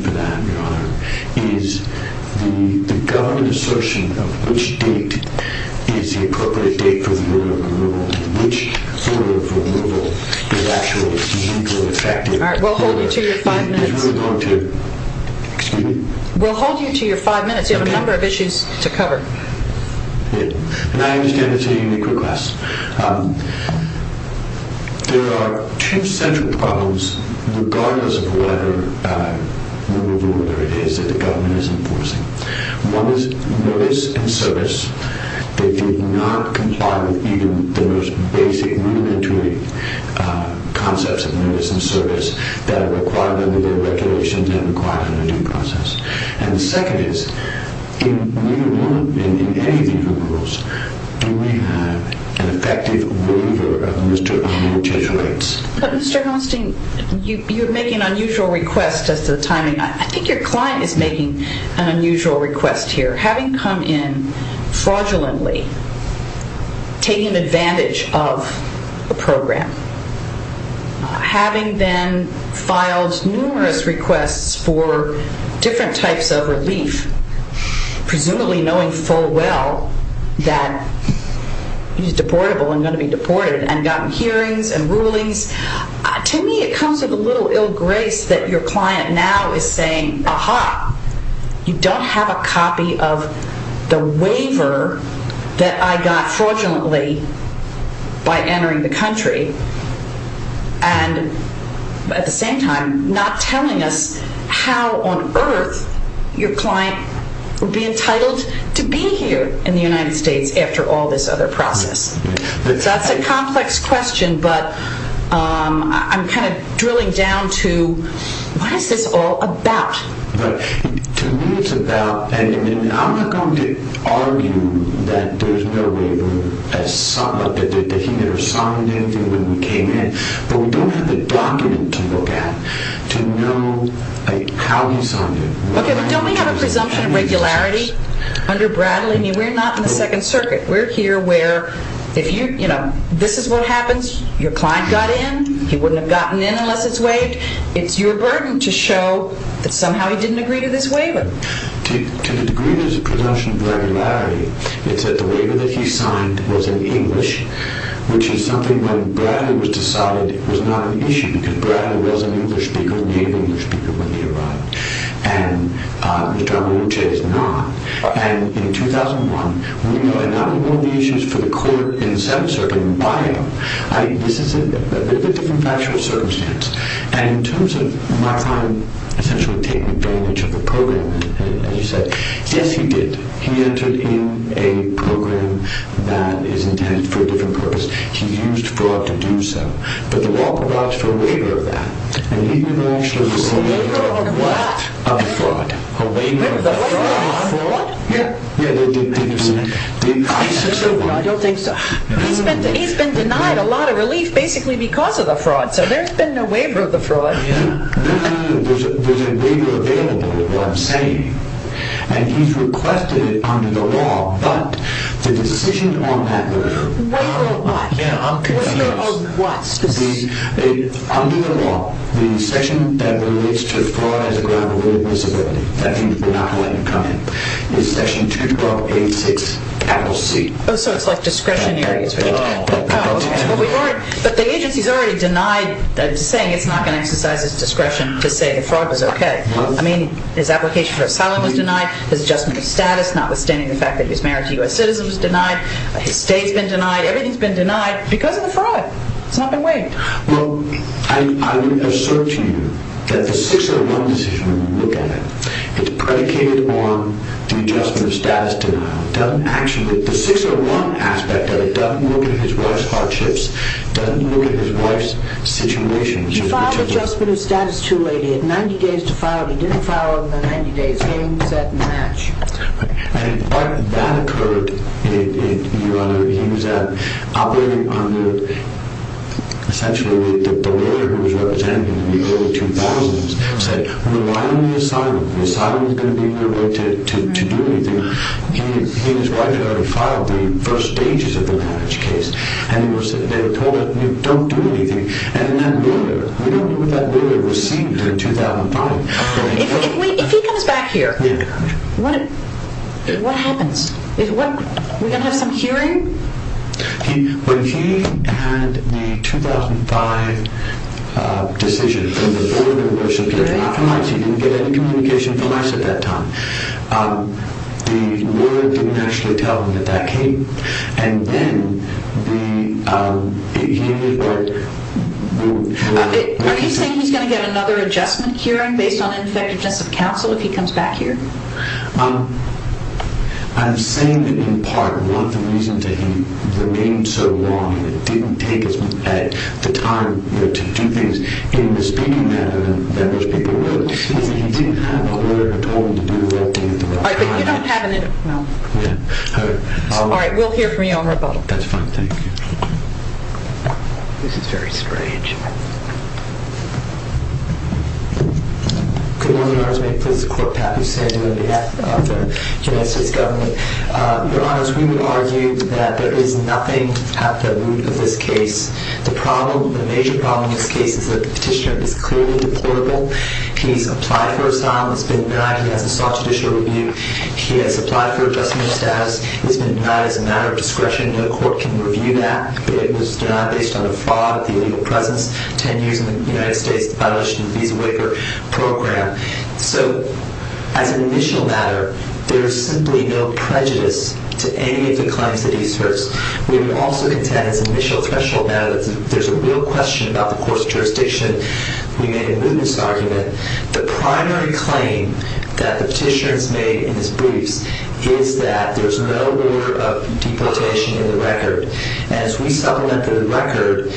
Please stand by. Just realize that you have to wear these masks. There are 10 minutes for approval and the primary reason for that, Your Honor, is the government's assertion of which date is the appropriate date for the order of approval. Which order of approval is actually going to effective. Alright, we'll hold you to your five minutes. We're going to, excuse me? We'll hold you to your five minutes. You have a number of issues to cover. And I understand it's a unique request. There are two central problems regardless of whatever number of order it is that the government is enforcing. One is notice and service. They did not comply with even the most basic, rudimentary concepts of notice and service that are required under their regulations and required under due process. And the second is, in any of these rules, do we have an effective waiver of Mr. Austin's rights? But Mr. Austin, you're making an unusual request as to the timing. I think your client is making an unusual request here. Having come in fraudulently, taking advantage of the program, having then filed numerous requests for different types of relief, presumably knowing full well that he's deportable and going to be deported, and gotten hearings and rulings. To me, it comes with a little ill grace that your client now is saying, aha, you don't have a copy of the waiver that I got fraudulently by entering the country. And at the same time, not telling us how on earth your client would be entitled to be here in the United States after all this other process. So that's a complex question, but I'm kind of drilling down to, what is this all about? To me, it's about, and I'm not going to argue that there's no waiver. He never signed anything when we came in, but we don't have the document to look at to know how he signed it. Okay, but don't we have a presumption of regularity under Bradley? I mean, we're not in the Second Circuit. We're here where if you, you know, this is what happens. Your client got in. He wouldn't have gotten in unless it's waived. It's your burden to show that somehow he didn't agree to this waiver. To the degree there's a presumption of regularity, it's that the waiver that he signed was in English, which is something when Bradley was decided was not an issue, because Bradley was an English speaker, a native English speaker when he arrived. And Mr. Amorucci is not. And in 2001, we are not involved in the issues for the court in the Seventh Circuit. Why are you? This is a bit of a different factual circumstance. And in terms of my client essentially taking advantage of the program, as you said, yes, he did. He entered in a program that is intended for a different purpose. He used fraud to do so. But the law provides for a waiver of that. And he didn't actually receive a waiver of what? A waiver of fraud. A waiver of fraud? Yeah. I don't think so. He's been denied a lot of relief basically because of the fraud. So there's been no waiver of the fraud. No, no, no. There's a waiver available, is what I'm saying. And he's requested it under the law. But the decision on that waiver. Waiver of what? Yeah. I'm confused. Waiver of what? Under the law, the session that relates to fraud as a ground rule of disability. That means we're not going to let him come in. It's session 2286-C. Oh, so it's like discretionary. Oh. But the agency's already denied saying it's not going to exercise his discretion to say the fraud was okay. I mean, his application for asylum was denied. His adjustment of status, notwithstanding the fact that he's married to U.S. citizens, was denied. His state's been denied. Everything's been denied because of the fraud. It's not been waived. Well, I would assert to you that the 601 decision when you look at it, it's predicated on the adjustment of status denial. The 601 aspect of it doesn't look at his wife's hardships, doesn't look at his wife's situation. He filed adjustment of status too late. He had 90 days to file it. He didn't file it within 90 days. Game, set, and match. And what that occurred, Your Honor, he was operating under essentially the barrier he was representing in the early 2000s. He said, well, why don't we assign him? The asylum's going to be in the way to do anything. He and his wife had already filed the first stages of the marriage case. And they were told, don't do anything. And that lawyer, we don't know what that lawyer received in 2005. If he comes back here, what happens? Are we going to have some hearing? When he had the 2005 decision, he didn't get any communication from us at that time. The lawyer didn't actually tell him that that came. Are you saying he's going to get another adjustment hearing based on ineffectiveness of counsel if he comes back here? I'm saying that, in part, one of the reasons that he remained so long and didn't take the time to do things in the speedy manner that most people would, is that he didn't have a lawyer who told him to do the right thing at the right time. All right, we'll hear from you on rebuttal. That's fine, thank you. This is very strange. Good morning, Your Honors. May it please the court, Pat, who's standing on behalf of the United States government. Your Honors, we would argue that there is nothing at the root of this case. The problem, the major problem in this case, is that the petitioner is clearly deportable. He's applied for asylum. He's been denied. He has a soft judicial review. He has applied for adjustment of status. He's been denied as a matter of discretion. No court can review that. It was denied based on the fraud, the illegal presence, 10 years in the United States, the violation of the Visa Waiver Program. So, as an initial matter, there is simply no prejudice to any of the claims that he asserts. We would also contend, as an initial threshold matter, that there's a real question about the court's jurisdiction. We made a mootness argument. The primary claim that the petitioner has made in his briefs is that there's no order of deportation in the record. And as we supplemented the record,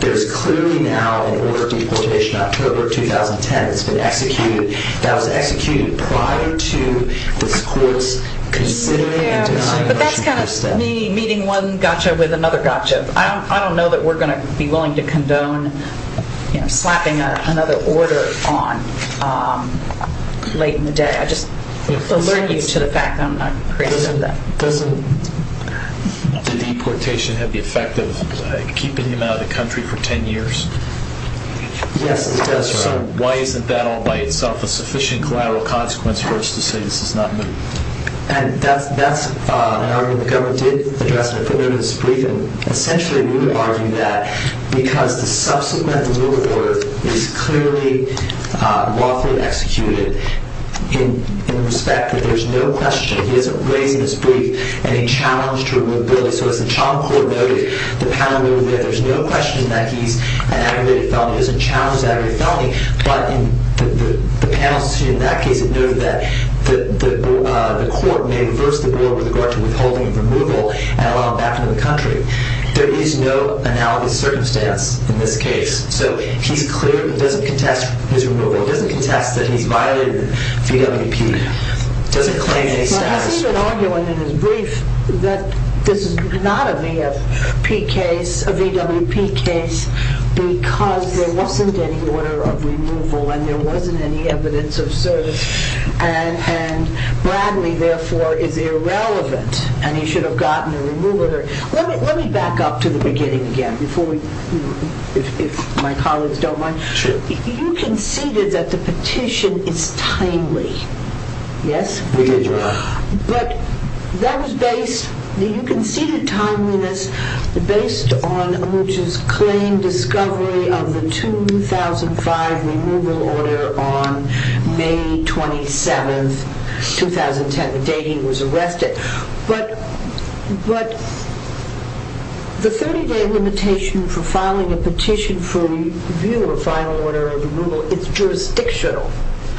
there's clearly now an order of deportation, October 2010, that's been executed, that was executed prior to this court's considering and denying motion for this step. But that's kind of me meeting one gotcha with another gotcha. I don't know that we're going to be willing to condone slapping another order on late in the day. I just alert you to the fact that I'm not appreciative of that. Does the deportation have the effect of keeping him out of the country for 10 years? Yes, it does. So why isn't that all by itself a sufficient collateral consequence for us to say this is not moot? And that's an argument the government did address when they put it in its brief. And essentially, we would argue that because the subsequent removal order is clearly lawfully executed in respect that there's no question he isn't raised in his brief any challenge to removability. So as the child court noted, the panel noted that there's no question that he's an aggravated felony. He doesn't challenge an aggravated felony. But the panel in that case noted that the court may reverse the board with regard to withholding removal and allow him back into the country. There is no analogous circumstance in this case. So he's clear. It doesn't contest his removal. It doesn't contest that he's violated VWP. It doesn't claim any status. He's even arguing in his brief that this is not a VWP case because there wasn't any order of removal and there wasn't any evidence of service. And Bradley, therefore, is irrelevant and he should have gotten a removal order. Let me back up to the beginning again, if my colleagues don't mind. You conceded that the petition is timely, yes? We did, Your Honor. But that was based, you conceded timeliness based on Amoogah's claim discovery of the 2005 removal order on May 27th, 2010, the day he was arrested. But the 30-day limitation for filing a petition for review or final order of removal, it's jurisdictional.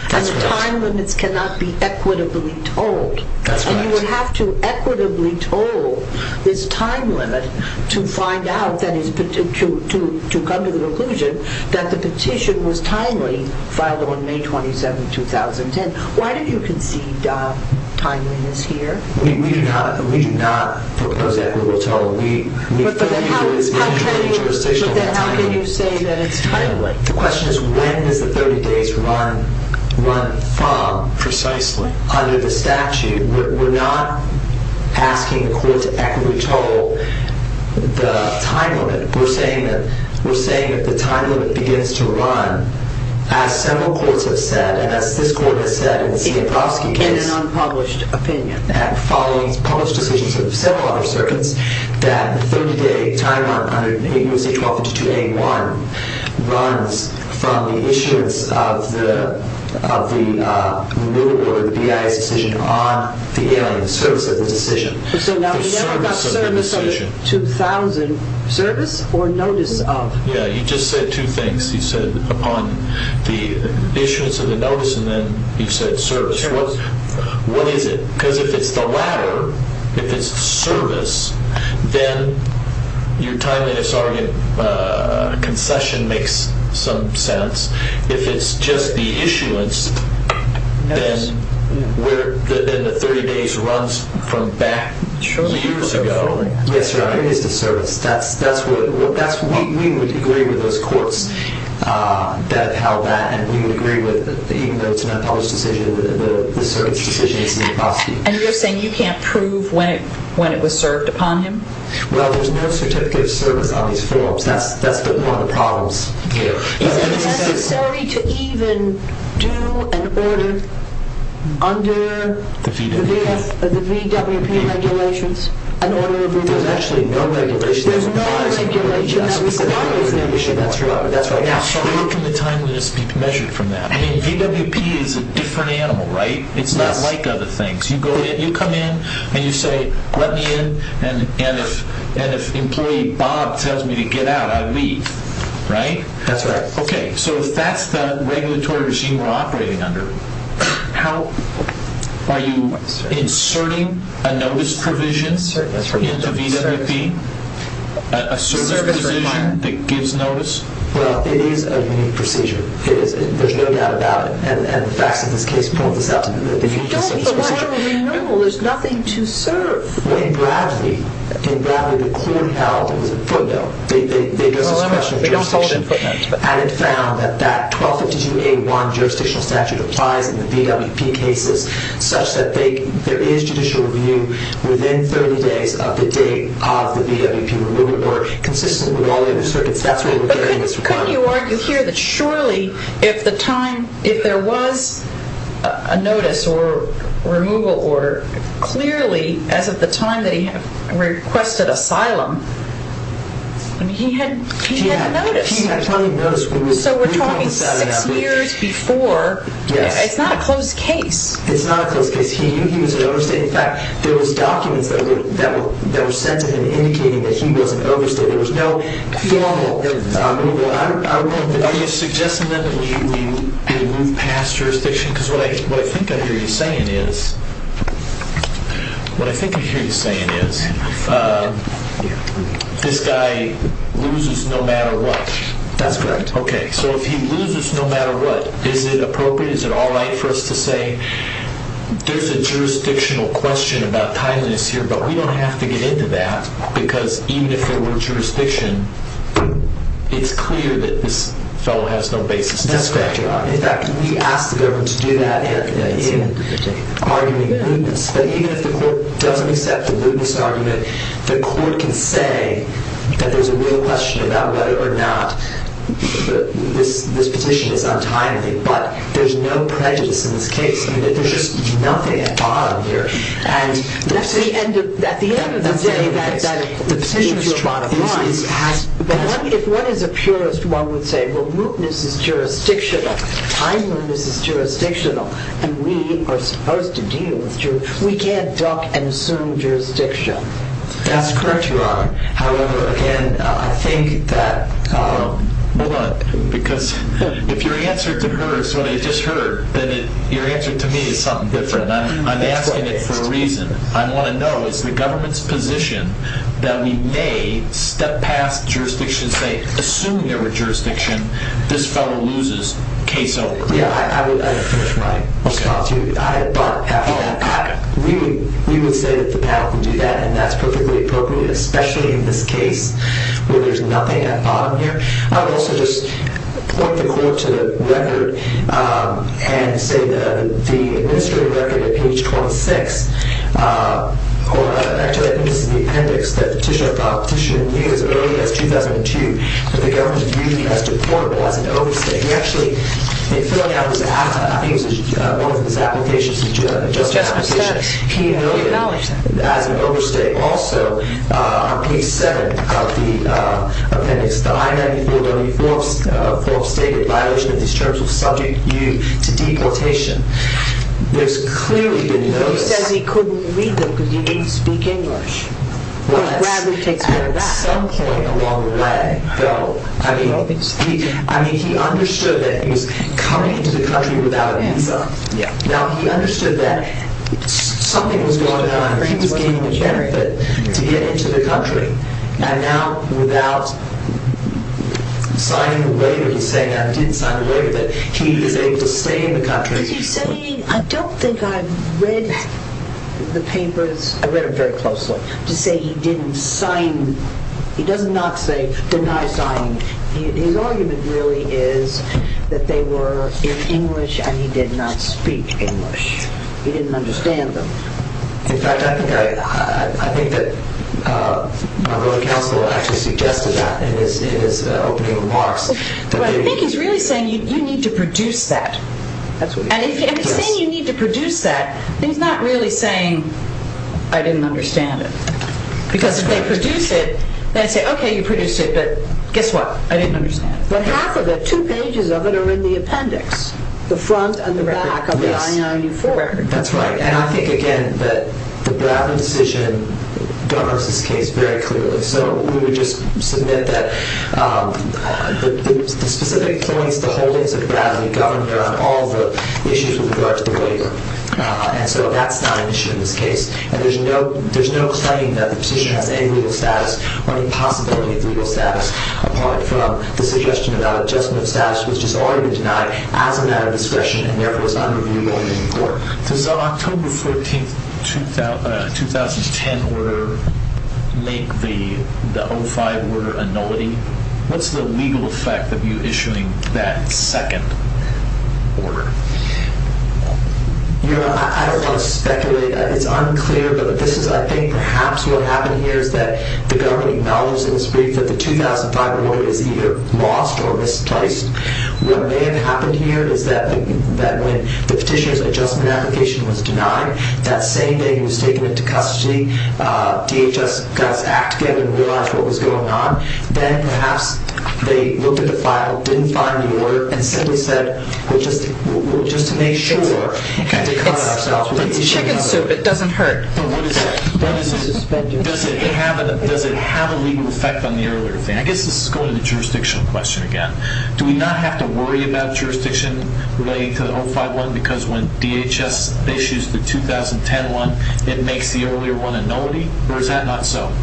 That's correct. And the time limits cannot be equitably told. That's correct. And you would have to equitably toll this time limit to come to the conclusion that the petition was timely, filed on May 27th, 2010. Why did you concede timeliness here? We do not propose equitable toll. But then how can you say that it's timely? The question is when does the 30 days run from precisely under the statute? We're not asking the court to equitably toll the time limit. We're saying that the time limit begins to run, as several courts have said, and as this court has said in the Sienkowski case. In an unpublished opinion. Following published decisions of several other circuits, that 30-day time limit under USA 12-2A1 runs from the issuance of the removal or the BIS decision on the alien, the service of the decision. So now we never got service of the 2000. Service or notice of? Yeah, you just said two things. You said upon the issuance of the notice, and then you said service. What is it? Because if it's the latter, if it's service, then your timeliness argument concession makes some sense. If it's just the issuance, then the 30 days runs from back years ago. Yes, sir. I think it's the service. We would agree with those courts that how that, and we would agree with even though it's an unpublished decision, the circuit's decision is Sienkowski. And you're saying you can't prove when it was served upon him? Well, there's no certificate of service on these forms. That's one of the problems here. Is it necessary to even do an order under the VWP regulations, an order of removal? There's actually no regulation. There's no regulation that requires removal. That's right. Where can the timeliness be measured from that? I mean, VWP is a different animal, right? It's not like other things. You come in and you say, let me in, and if employee Bob tells me to get out, I leave, right? That's right. Okay, so if that's the regulatory regime we're operating under, are you inserting a notice provision into VWP, a service provision that gives notice? Well, it is a new procedure. There's no doubt about it. And the facts of this case point this out to me. But why don't we know? There's nothing to serve. In Bradley, the court held it was a footnote. They don't hold in footnotes. And it found that that 1252A1 jurisdictional statute applies in the VWP cases such that there is judicial review within 30 days of the date of the VWP removal or consistent with all the other circuits. That's where we're getting this requirement. Why don't you argue here that surely if the time, if there was a notice or removal order, clearly as of the time that he requested asylum, he had a notice. So we're talking six years before. It's not a closed case. It's not a closed case. He knew he was in overstate. In fact, there was documents that were sent to him indicating that he was in overstate. So there was no formal removal. Are you suggesting then that we move past jurisdiction? Because what I think I hear you saying is this guy loses no matter what. That's correct. Okay. So if he loses no matter what, is it appropriate? Is it all right for us to say there's a jurisdictional question about jurisdiction, it's clear that this fellow has no basis to speculate on. That's correct, Your Honor. In fact, we asked the government to do that in arguing lewdness. But even if the court doesn't accept the lewdness argument, the court can say that there's a real question about whether or not this petition is untimely. But there's no prejudice in this case. There's just nothing at bottom here. At the end of the day, if one is a purist, one would say, well, lewdness is jurisdictional. Timeliness is jurisdictional. And we are supposed to deal with jurisdiction. We can't duck and assume jurisdiction. That's correct, Your Honor. However, again, I think that – Hold on. Because if your answer to her is what I just heard, then your answer to me is something different. And I'm asking it for a reason. I want to know, is the government's position that we may step past jurisdiction and say, assume there were jurisdiction, this fellow loses, case over? Yeah, I would finish my response to you. But we would say that the panel can do that, and that's perfectly appropriate, especially in this case where there's nothing at bottom here. I would also just point the court to the record and say the administrative record at page 26, or actually I think this is the appendix, that the petitioner filed a petition as early as 2002 that the government viewed as deportable as an overstay. He actually, in filling out his application, I think it was one of his applications, a justice application, he noted as an overstay. Also, on page 7 of the appendix, the I-94-W-4 stated violation of these terms will subject you to deportation. There's clearly been notice. But he says he couldn't read them because he didn't speak English. Well, that's at some point along the way, though. I mean, he understood that he was coming into the country without a visa. Now, he understood that something was going on. He was gaining the benefit to get into the country. And now, without signing the waiver, he's saying I didn't sign the waiver, that he is able to stay in the country. Because he's saying, I don't think I read the papers. I read them very closely. To say he didn't sign, he does not say deny signing. His argument really is that they were in English and he did not speak English. He didn't understand them. In fact, I think that our Board of Counsel actually suggested that in his opening remarks. But I think he's really saying you need to produce that. And if he's saying you need to produce that, he's not really saying I didn't understand it. Because if they produce it, they say, okay, you produced it, but guess what? I didn't understand it. But half of it, two pages of it, are in the appendix, the front and the back of the I-94. That's right. And I think, again, that the Bradley decision governs this case very clearly. So we would just submit that the specific points, the holdings of Bradley, govern all the issues with regard to the waiver. And so that's not an issue in this case. And there's no claim that the position has any legal status or any possibility of legal status, apart from the suggestion about adjustment of status, which has already been denied as a matter of discretion and therefore is not reviewable in court. Does the October 14, 2010 order make the 05 order a nullity? What's the legal effect of you issuing that second order? I don't want to speculate. It's unclear. But I think perhaps what happened here is that the government acknowledges in this brief that the 2005 order is either lost or misplaced. What may have happened here is that when the petitioner's adjustment application was denied, that same day he was taken into custody, DHS got its act together and realized what was going on. Then perhaps they looked at the file, didn't find the order, and simply said, just to make sure, to cut ourselves. It's chicken soup. It doesn't hurt. Does it have a legal effect on the earlier thing? I guess this is going to the jurisdictional question again. Do we not have to worry about jurisdiction relating to the 05 one because when DHS issues the 2010 one, it makes the earlier one a nullity? Or is that not so?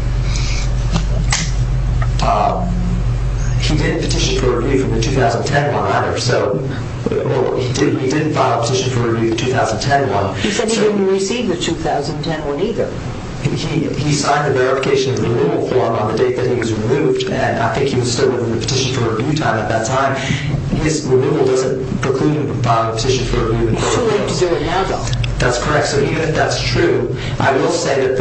He didn't file a petition for review of the 2010 one. He said he didn't receive the 2010 one either. He signed the verification of the renewal form on the date that he was removed, and I think he was still waiting for the petition for review time at that time. This removal doesn't preclude him from filing a petition for review. It's too late to do it now, though. That's correct. So even if that's true, I will say that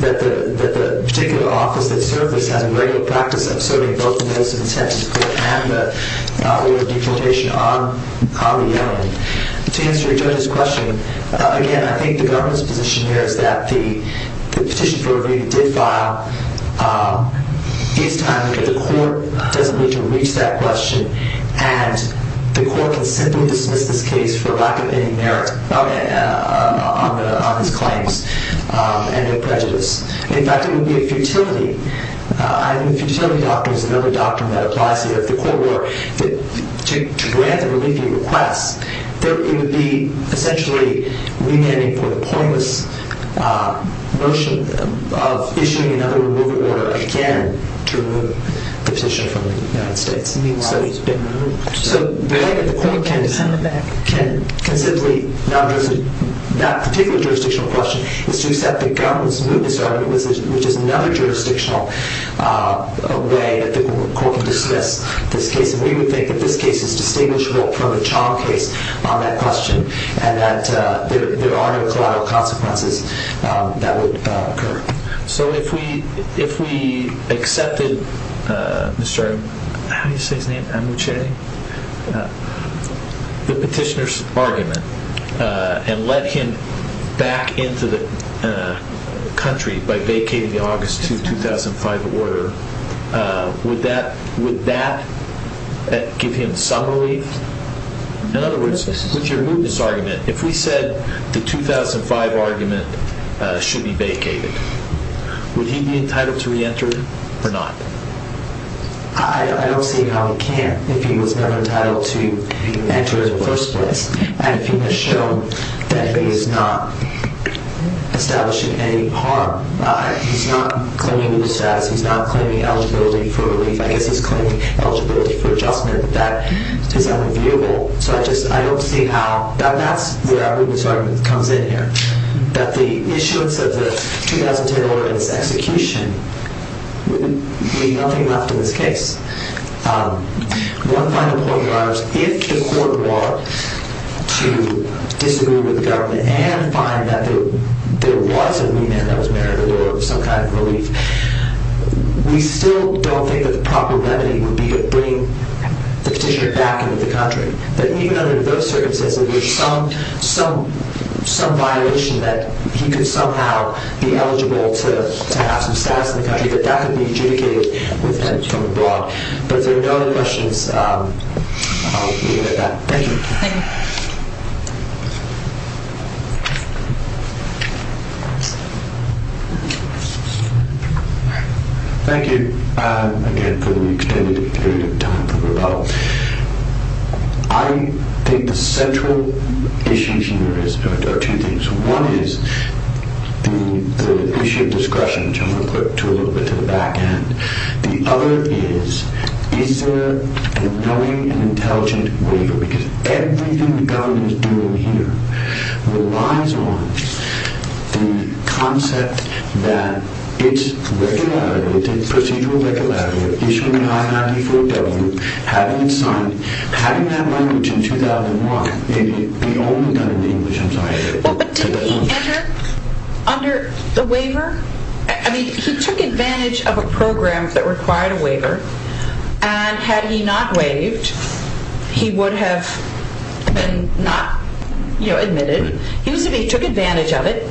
the particular office that served this has a regular practice of serving both the notice of intent and the order of deportation on their own. To answer your judge's question, again, I think the government's position here is that the petition for review did file. It's time that the court doesn't need to reach that question, and the court can simply dismiss this case for lack of any merit on his claims and their prejudice. In fact, it would be a futility. I mean, the futility doctrine is another doctrine that applies here. If the court were to grant a relief request, it would be essentially remanding for the pointless notion of issuing another removal order again to remove the petition from the United States. Meanwhile, he's been removed. So the fact that the court can simply, not particularly a jurisdictional question, is to accept the government's move to start a new position, which is another jurisdictional way that the court can dismiss this case. And we would think that this case is distinguishable from a child case on that question and that there are no collateral consequences that would occur. So if we accepted the petitioner's argument and let him back into the country by vacating the August 2005 order, would that give him some relief? In other words, would you remove this argument? If we said the 2005 argument should be vacated, would he be entitled to reenter or not? I don't see how he can't if he was not entitled to enter in the first place. And if he has shown that he is not establishing any harm, he's not claiming the status, he's not claiming eligibility for relief, I guess he's claiming eligibility for adjustment, that is unreviewable. So I just, I don't see how, that's where everyone's argument comes in here, that the issuance of the 2010 order and its execution would mean nothing left in this case. One final point, if the court were to disagree with the government and find that there was a new man that was married or some kind of relief, we still don't think that the proper remedy would be to bring the petitioner back into the country. But even under those circumstances, there's some violation that he could somehow be eligible to have some status in the country, but that could be adjudicated with him from abroad. But if there are no other questions, I'll leave it at that. Thank you. Thank you. Thank you again for the extended period of time for rebuttal. I think the central issues here are two things. One is the issue of discretion, which I'm going to put a little bit to the back end. The other is, is there a knowing and intelligent waiver? Because everything the government is doing here relies on the concept that it's regular, it's in procedural regularity, issuing an I-94W, having it signed, having that language in 2001. It would be only done in English, I'm sorry. But didn't he enter under the waiver? I mean, he took advantage of a program that required a waiver, and had he not waived, he would have been not admitted. He took advantage of it,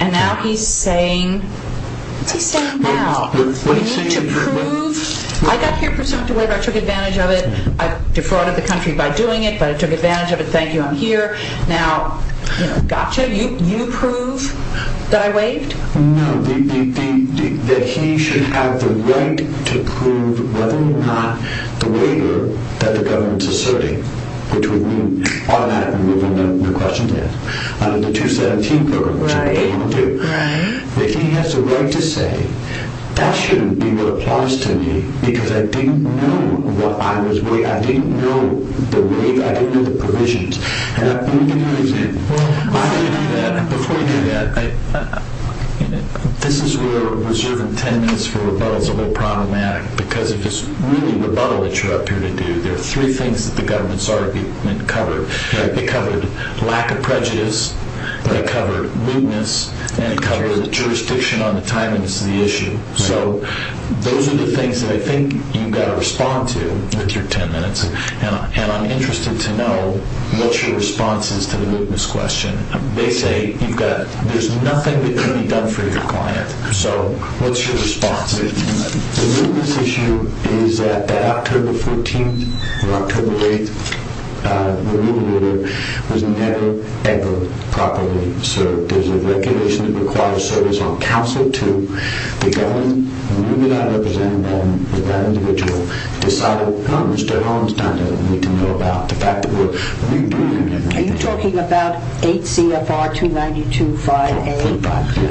and now he's saying, what's he saying now? We need to prove, I got here pursuant to waiver, I took advantage of it, I defrauded the country by doing it, but I took advantage of it, thank you, I'm here. Now, gotcha, you prove that I waived? No, that he should have the right to prove whether or not the waiver that the government is asserting, which would mean automatically removing the question there, under the 217 program, which is what they want to do, that he has the right to say, that shouldn't be what applies to me because I didn't know what I was waiving, I didn't know the waive, I didn't know the provisions. Let me give you an example. Before you do that, this is where reserving ten minutes for rebuttal is a little problematic, because if it's really rebuttal that you're up here to do, there are three things that the government's argument covered. It covered lack of prejudice, it covered lewdness, and it covered jurisdiction on the timeliness of the issue. So those are the things that I think you've got to respond to with your ten minutes, and I'm interested to know what your response is to the lewdness question. They say there's nothing that can be done for your client. So what's your response? The lewdness issue is that October 14th or October 8th, the new leader was never, ever properly served. There's a regulation that requires service on counsel to the government, and when you're not representing them with that individual, decide what comes. Mr. Holmstein doesn't need to know about the fact that we're rebuking him. Are you talking about 8 CFR 2925A?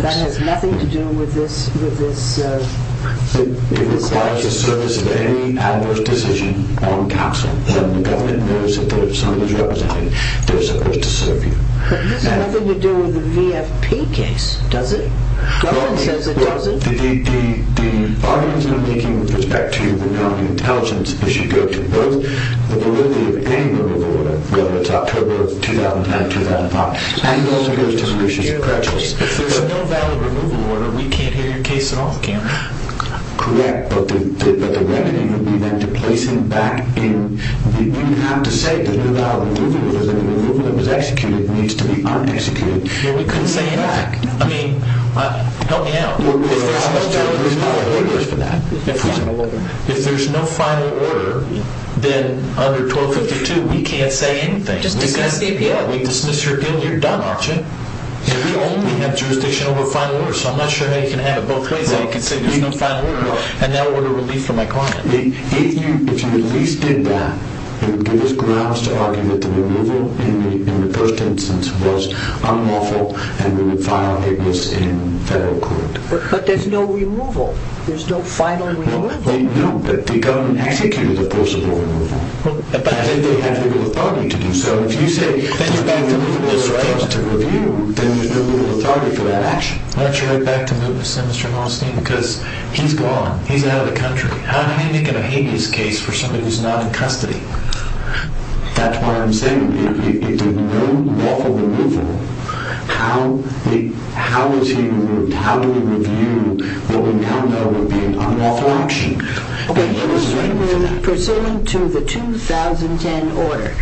That has nothing to do with this? It requires the service of any adverse decision on counsel, and the government knows that some of those representatives, they're supposed to serve you. It has nothing to do with the VFP case, does it? The government says it doesn't. The arguments I'm making with respect to the intelligence issue go to both the validity of any removal order, whether it's October 2009, 2005. If there's a no valid removal order, we can't hear your case at all, Cameron. Correct, but the remedy would be then to place him back in. You have to say the no valid removal order. The removal that was executed needs to be un-executed. We couldn't say anything. I mean, help me out. If there's no valid removal order for that, if there's no final order, then under 1252, we can't say anything. Just dismiss the appeal. Yeah, we dismiss your appeal and you're done, aren't you? If you only have jurisdiction over a final order, so I'm not sure how you can have it both ways, how you can say there's no final order and that order will be for my client. If you at least did that, it would give us grounds to argue that the removal in the first instance was unlawful and we would file it was in federal court. But there's no removal. There's no final removal. No, but the government executed the forcible removal. But I think they have legal authority to do so. If you say the removal is for us to review, then there's no legal authority for that action. Why don't you go back to Moot and send Mr. Hallstein? Because he's gone. He's out of the country. How do they make it a habeas case for somebody who's not in custody? That's what I'm saying. If there's no lawful removal, how is he removed? How do we review what we found out would be an unlawful action? He was removed pursuant to the 2010 order.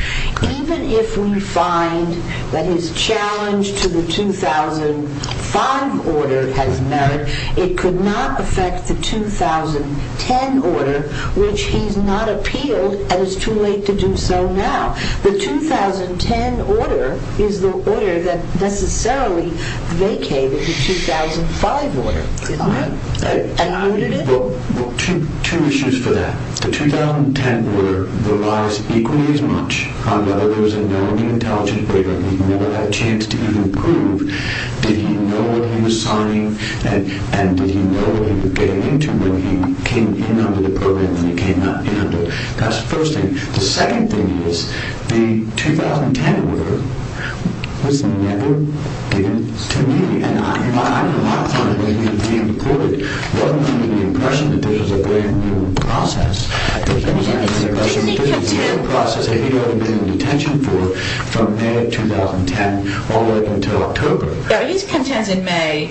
Even if we find that his challenge to the 2005 order has merit, it could not affect the 2010 order, which he's not appealed and it's too late to do so now. The 2010 order is the order that necessarily vacated the 2005 order. Two issues for that. The 2010 order relies equally as much on whether there was a known intelligence breaker. He never had a chance to even prove did he know what he was signing and did he know what he was getting into when he came in under the program and came out under it. That's the first thing. The second thing is the 2010 order was never given to me. My claim that he was being deported wasn't under the impression that this was a brand new process. It was under the impression that this was a new process that he'd only been in detention for from May of 2010 all the way up until October. He's content in May.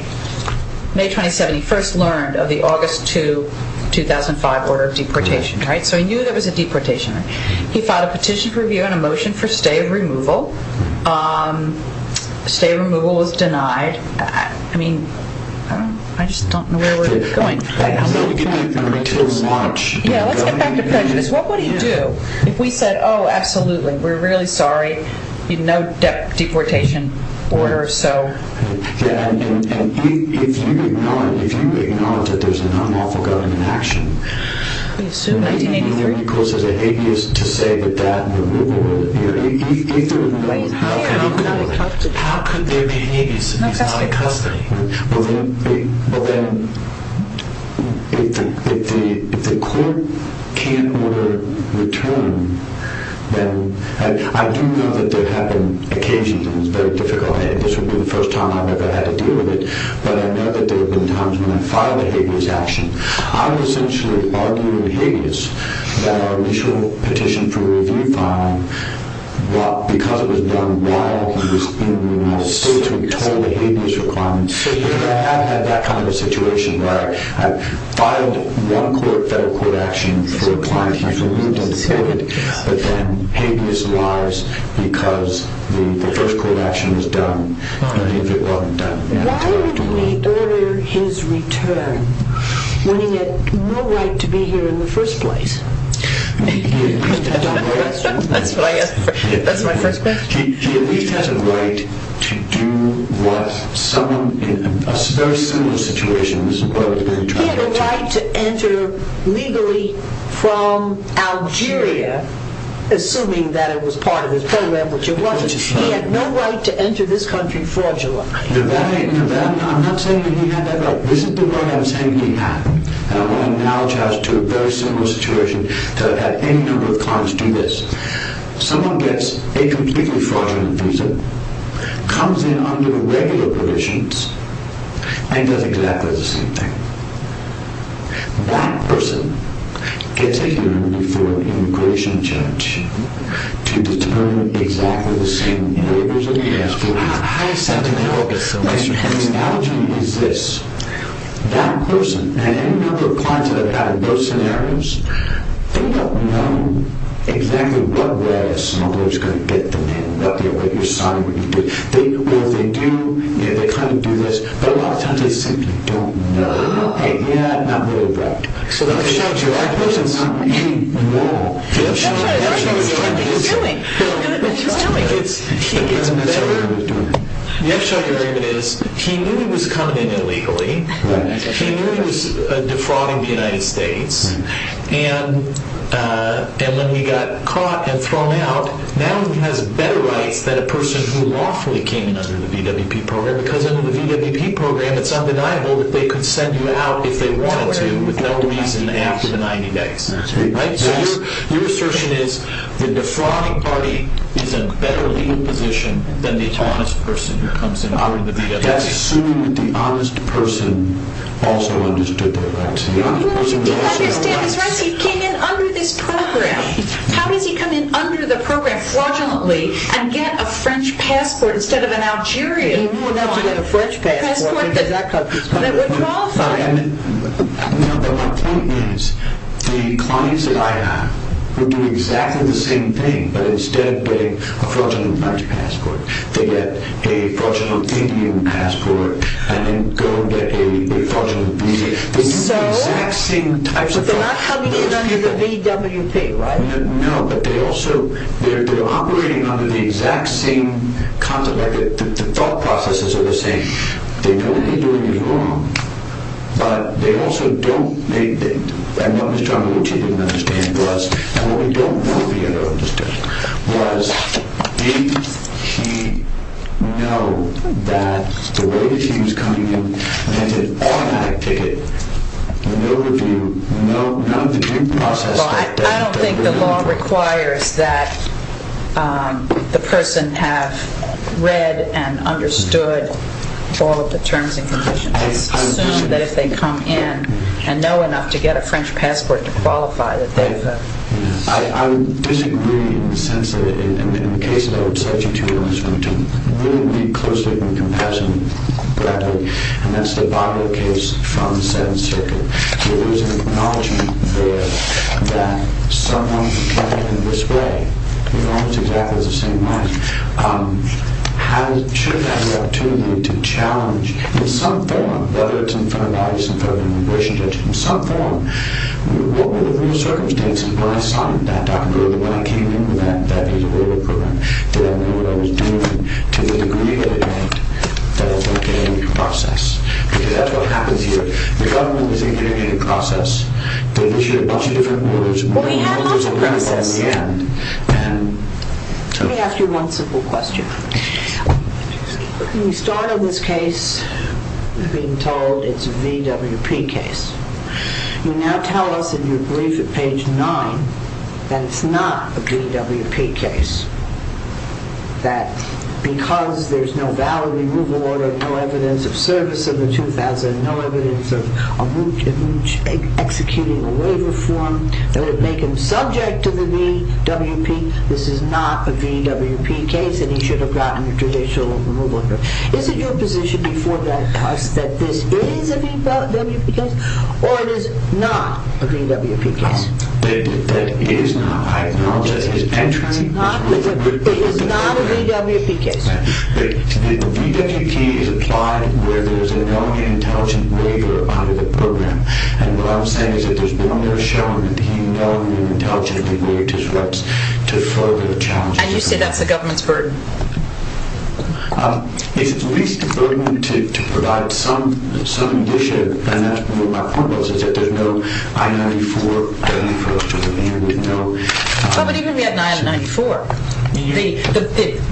May 2007, he first learned of the August 2005 order of deportation. He knew there was a deportation. He filed a petition for review and a motion for stay removal. Stay removal was denied. I just don't know where we're going. Let's get back to prejudice. What would he do if we said, oh, absolutely, we're really sorry. No deportation order. If you acknowledge that there's an unlawful government action, how could there be a habeas to deny custody? Well, then, if the court can't order return, then I do know that there have been occasions, and it's very difficult, and this would be the first time I've ever had to deal with it, but I know that there have been times when I filed a habeas action. I would essentially argue in habeas that our initial petition for review filing, because it was done while he was in the room, I was still told the habeas requirement, because I have had that kind of a situation where I filed one federal court action for a client he's removed and deported, but then habeas lies because the first court action was done, why would we order his return when he had no right to be here in the first place? That's my first question. He at least had a right to do what someone in a very similar situation was doing. He had a right to enter legally from Algeria, assuming that it was part of his program, which it wasn't. He had no right to enter this country fraudulently. I'm not saying he had that right. This is the right I'm saying he had, and I want to analogize to a very similar situation to have had any number of clients do this. Someone gets a completely fraudulent visa, comes in under the regular provisions, and does exactly the same thing. That person gets a hearing before an immigration judge to determine exactly the same behaviors as he has for a high sentinel. The analogy is this. That person and any number of clients that I've had in those scenarios, they don't know exactly what way a smuggler is going to get them in, what they're signing, what they do. They kind of do this, but a lot of times they simply don't know. Yeah, not really right. The upshot of the argument is he knew he was coming in illegally. He knew he was defrauding the United States, and when he got caught and thrown out, now he has better rights than a person who lawfully came in under the VWP program because under the VWP program it's undeniable that they could send you out if they wanted to with no reason after the 90 days. So your assertion is the defrauding party is in a better legal position than the honest person who comes in under the VWP. That's assuming that the honest person also understood their rights. Well, you didn't understand his rights. He came in under this program. How does he come in under the program fraudulently and get a French passport instead of an Algerian passport that would qualify him? No, but my point is the clients that I have will do exactly the same thing, but instead of getting a fraudulent French passport, they get a fraudulent Indian passport and then go and get a fraudulent visa. So they're not coming in under the VWP, right? No, but they're operating under the exact same concept. The thought processes are the same. They know what they're doing is wrong, but they also don't make the... I know Ms. Johnwood, which she didn't understand, and what we don't know if we ever understood was did she know that the way that she was coming in and get an automatic ticket with no review, none of the due process... I don't think the law requires that the person have read and understood all of the terms and conditions. I assume that if they come in and know enough to get a French passport to qualify that they've... I disagree in the sense of it. In the case that I would cite you to, I'm just going to really read closely from Compassion Bradley, and that's the Bobbitt case from the Seventh Circuit. So there's an acknowledgement there that someone who came in this way, almost exactly the same way, should have had the opportunity to challenge in some form, whether it's in front of lawyers, in front of an immigration judge, in some form what were the real circumstances when I signed that document, or when I came in with that visa waiver program. Did I know what I was doing to the degree that it meant that I was going to get out of the process? Because that's what happens here. The government is engaged in a process to initiate a bunch of different orders... Well, we had much of a process. Let me ask you one simple question. When you start on this case, being told it's a VWP case, you now tell us in your brief at page 9 that it's not a VWP case, that because there's no valid removal order, no evidence of service in the 2000, no evidence of executing a waiver form, that it would make him subject to the VWP. This is not a VWP case, and he should have gotten a judicial removal order. Is it your position before the House that this is a VWP case, or it is not a VWP case? That it is not. I acknowledge that it is not a VWP case. The VWP is applied where there's a known and intelligent waiver under the program. And what I'm saying is that there's no more showing that he known and intelligently waived his rights to further challenge the program. And you say that's the government's burden? It's at least a burden to provide some initiative, and that's what my point was, is that there's no I-94, that he fell to the man with no... But even if he had an I-94,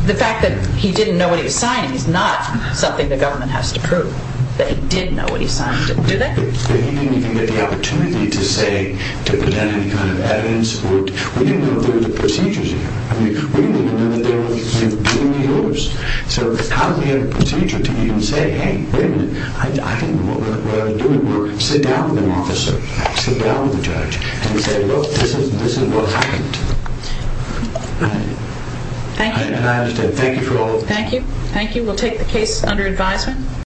the fact that he didn't know what he was signing is not something the government has to prove that he did know what he signed. Do they? But he didn't even get the opportunity to say, to present any kind of evidence. We didn't know there were procedures here. I mean, we didn't even know that they were giving the orders. So how do we have a procedure to even say, hey, wait a minute, I think what we're doing is sit down with an officer, sit down with a judge, and say, look, this is what happened. Thank you. And I understand. Thank you for all... Thank you. Thank you. We'll take the case under advisement.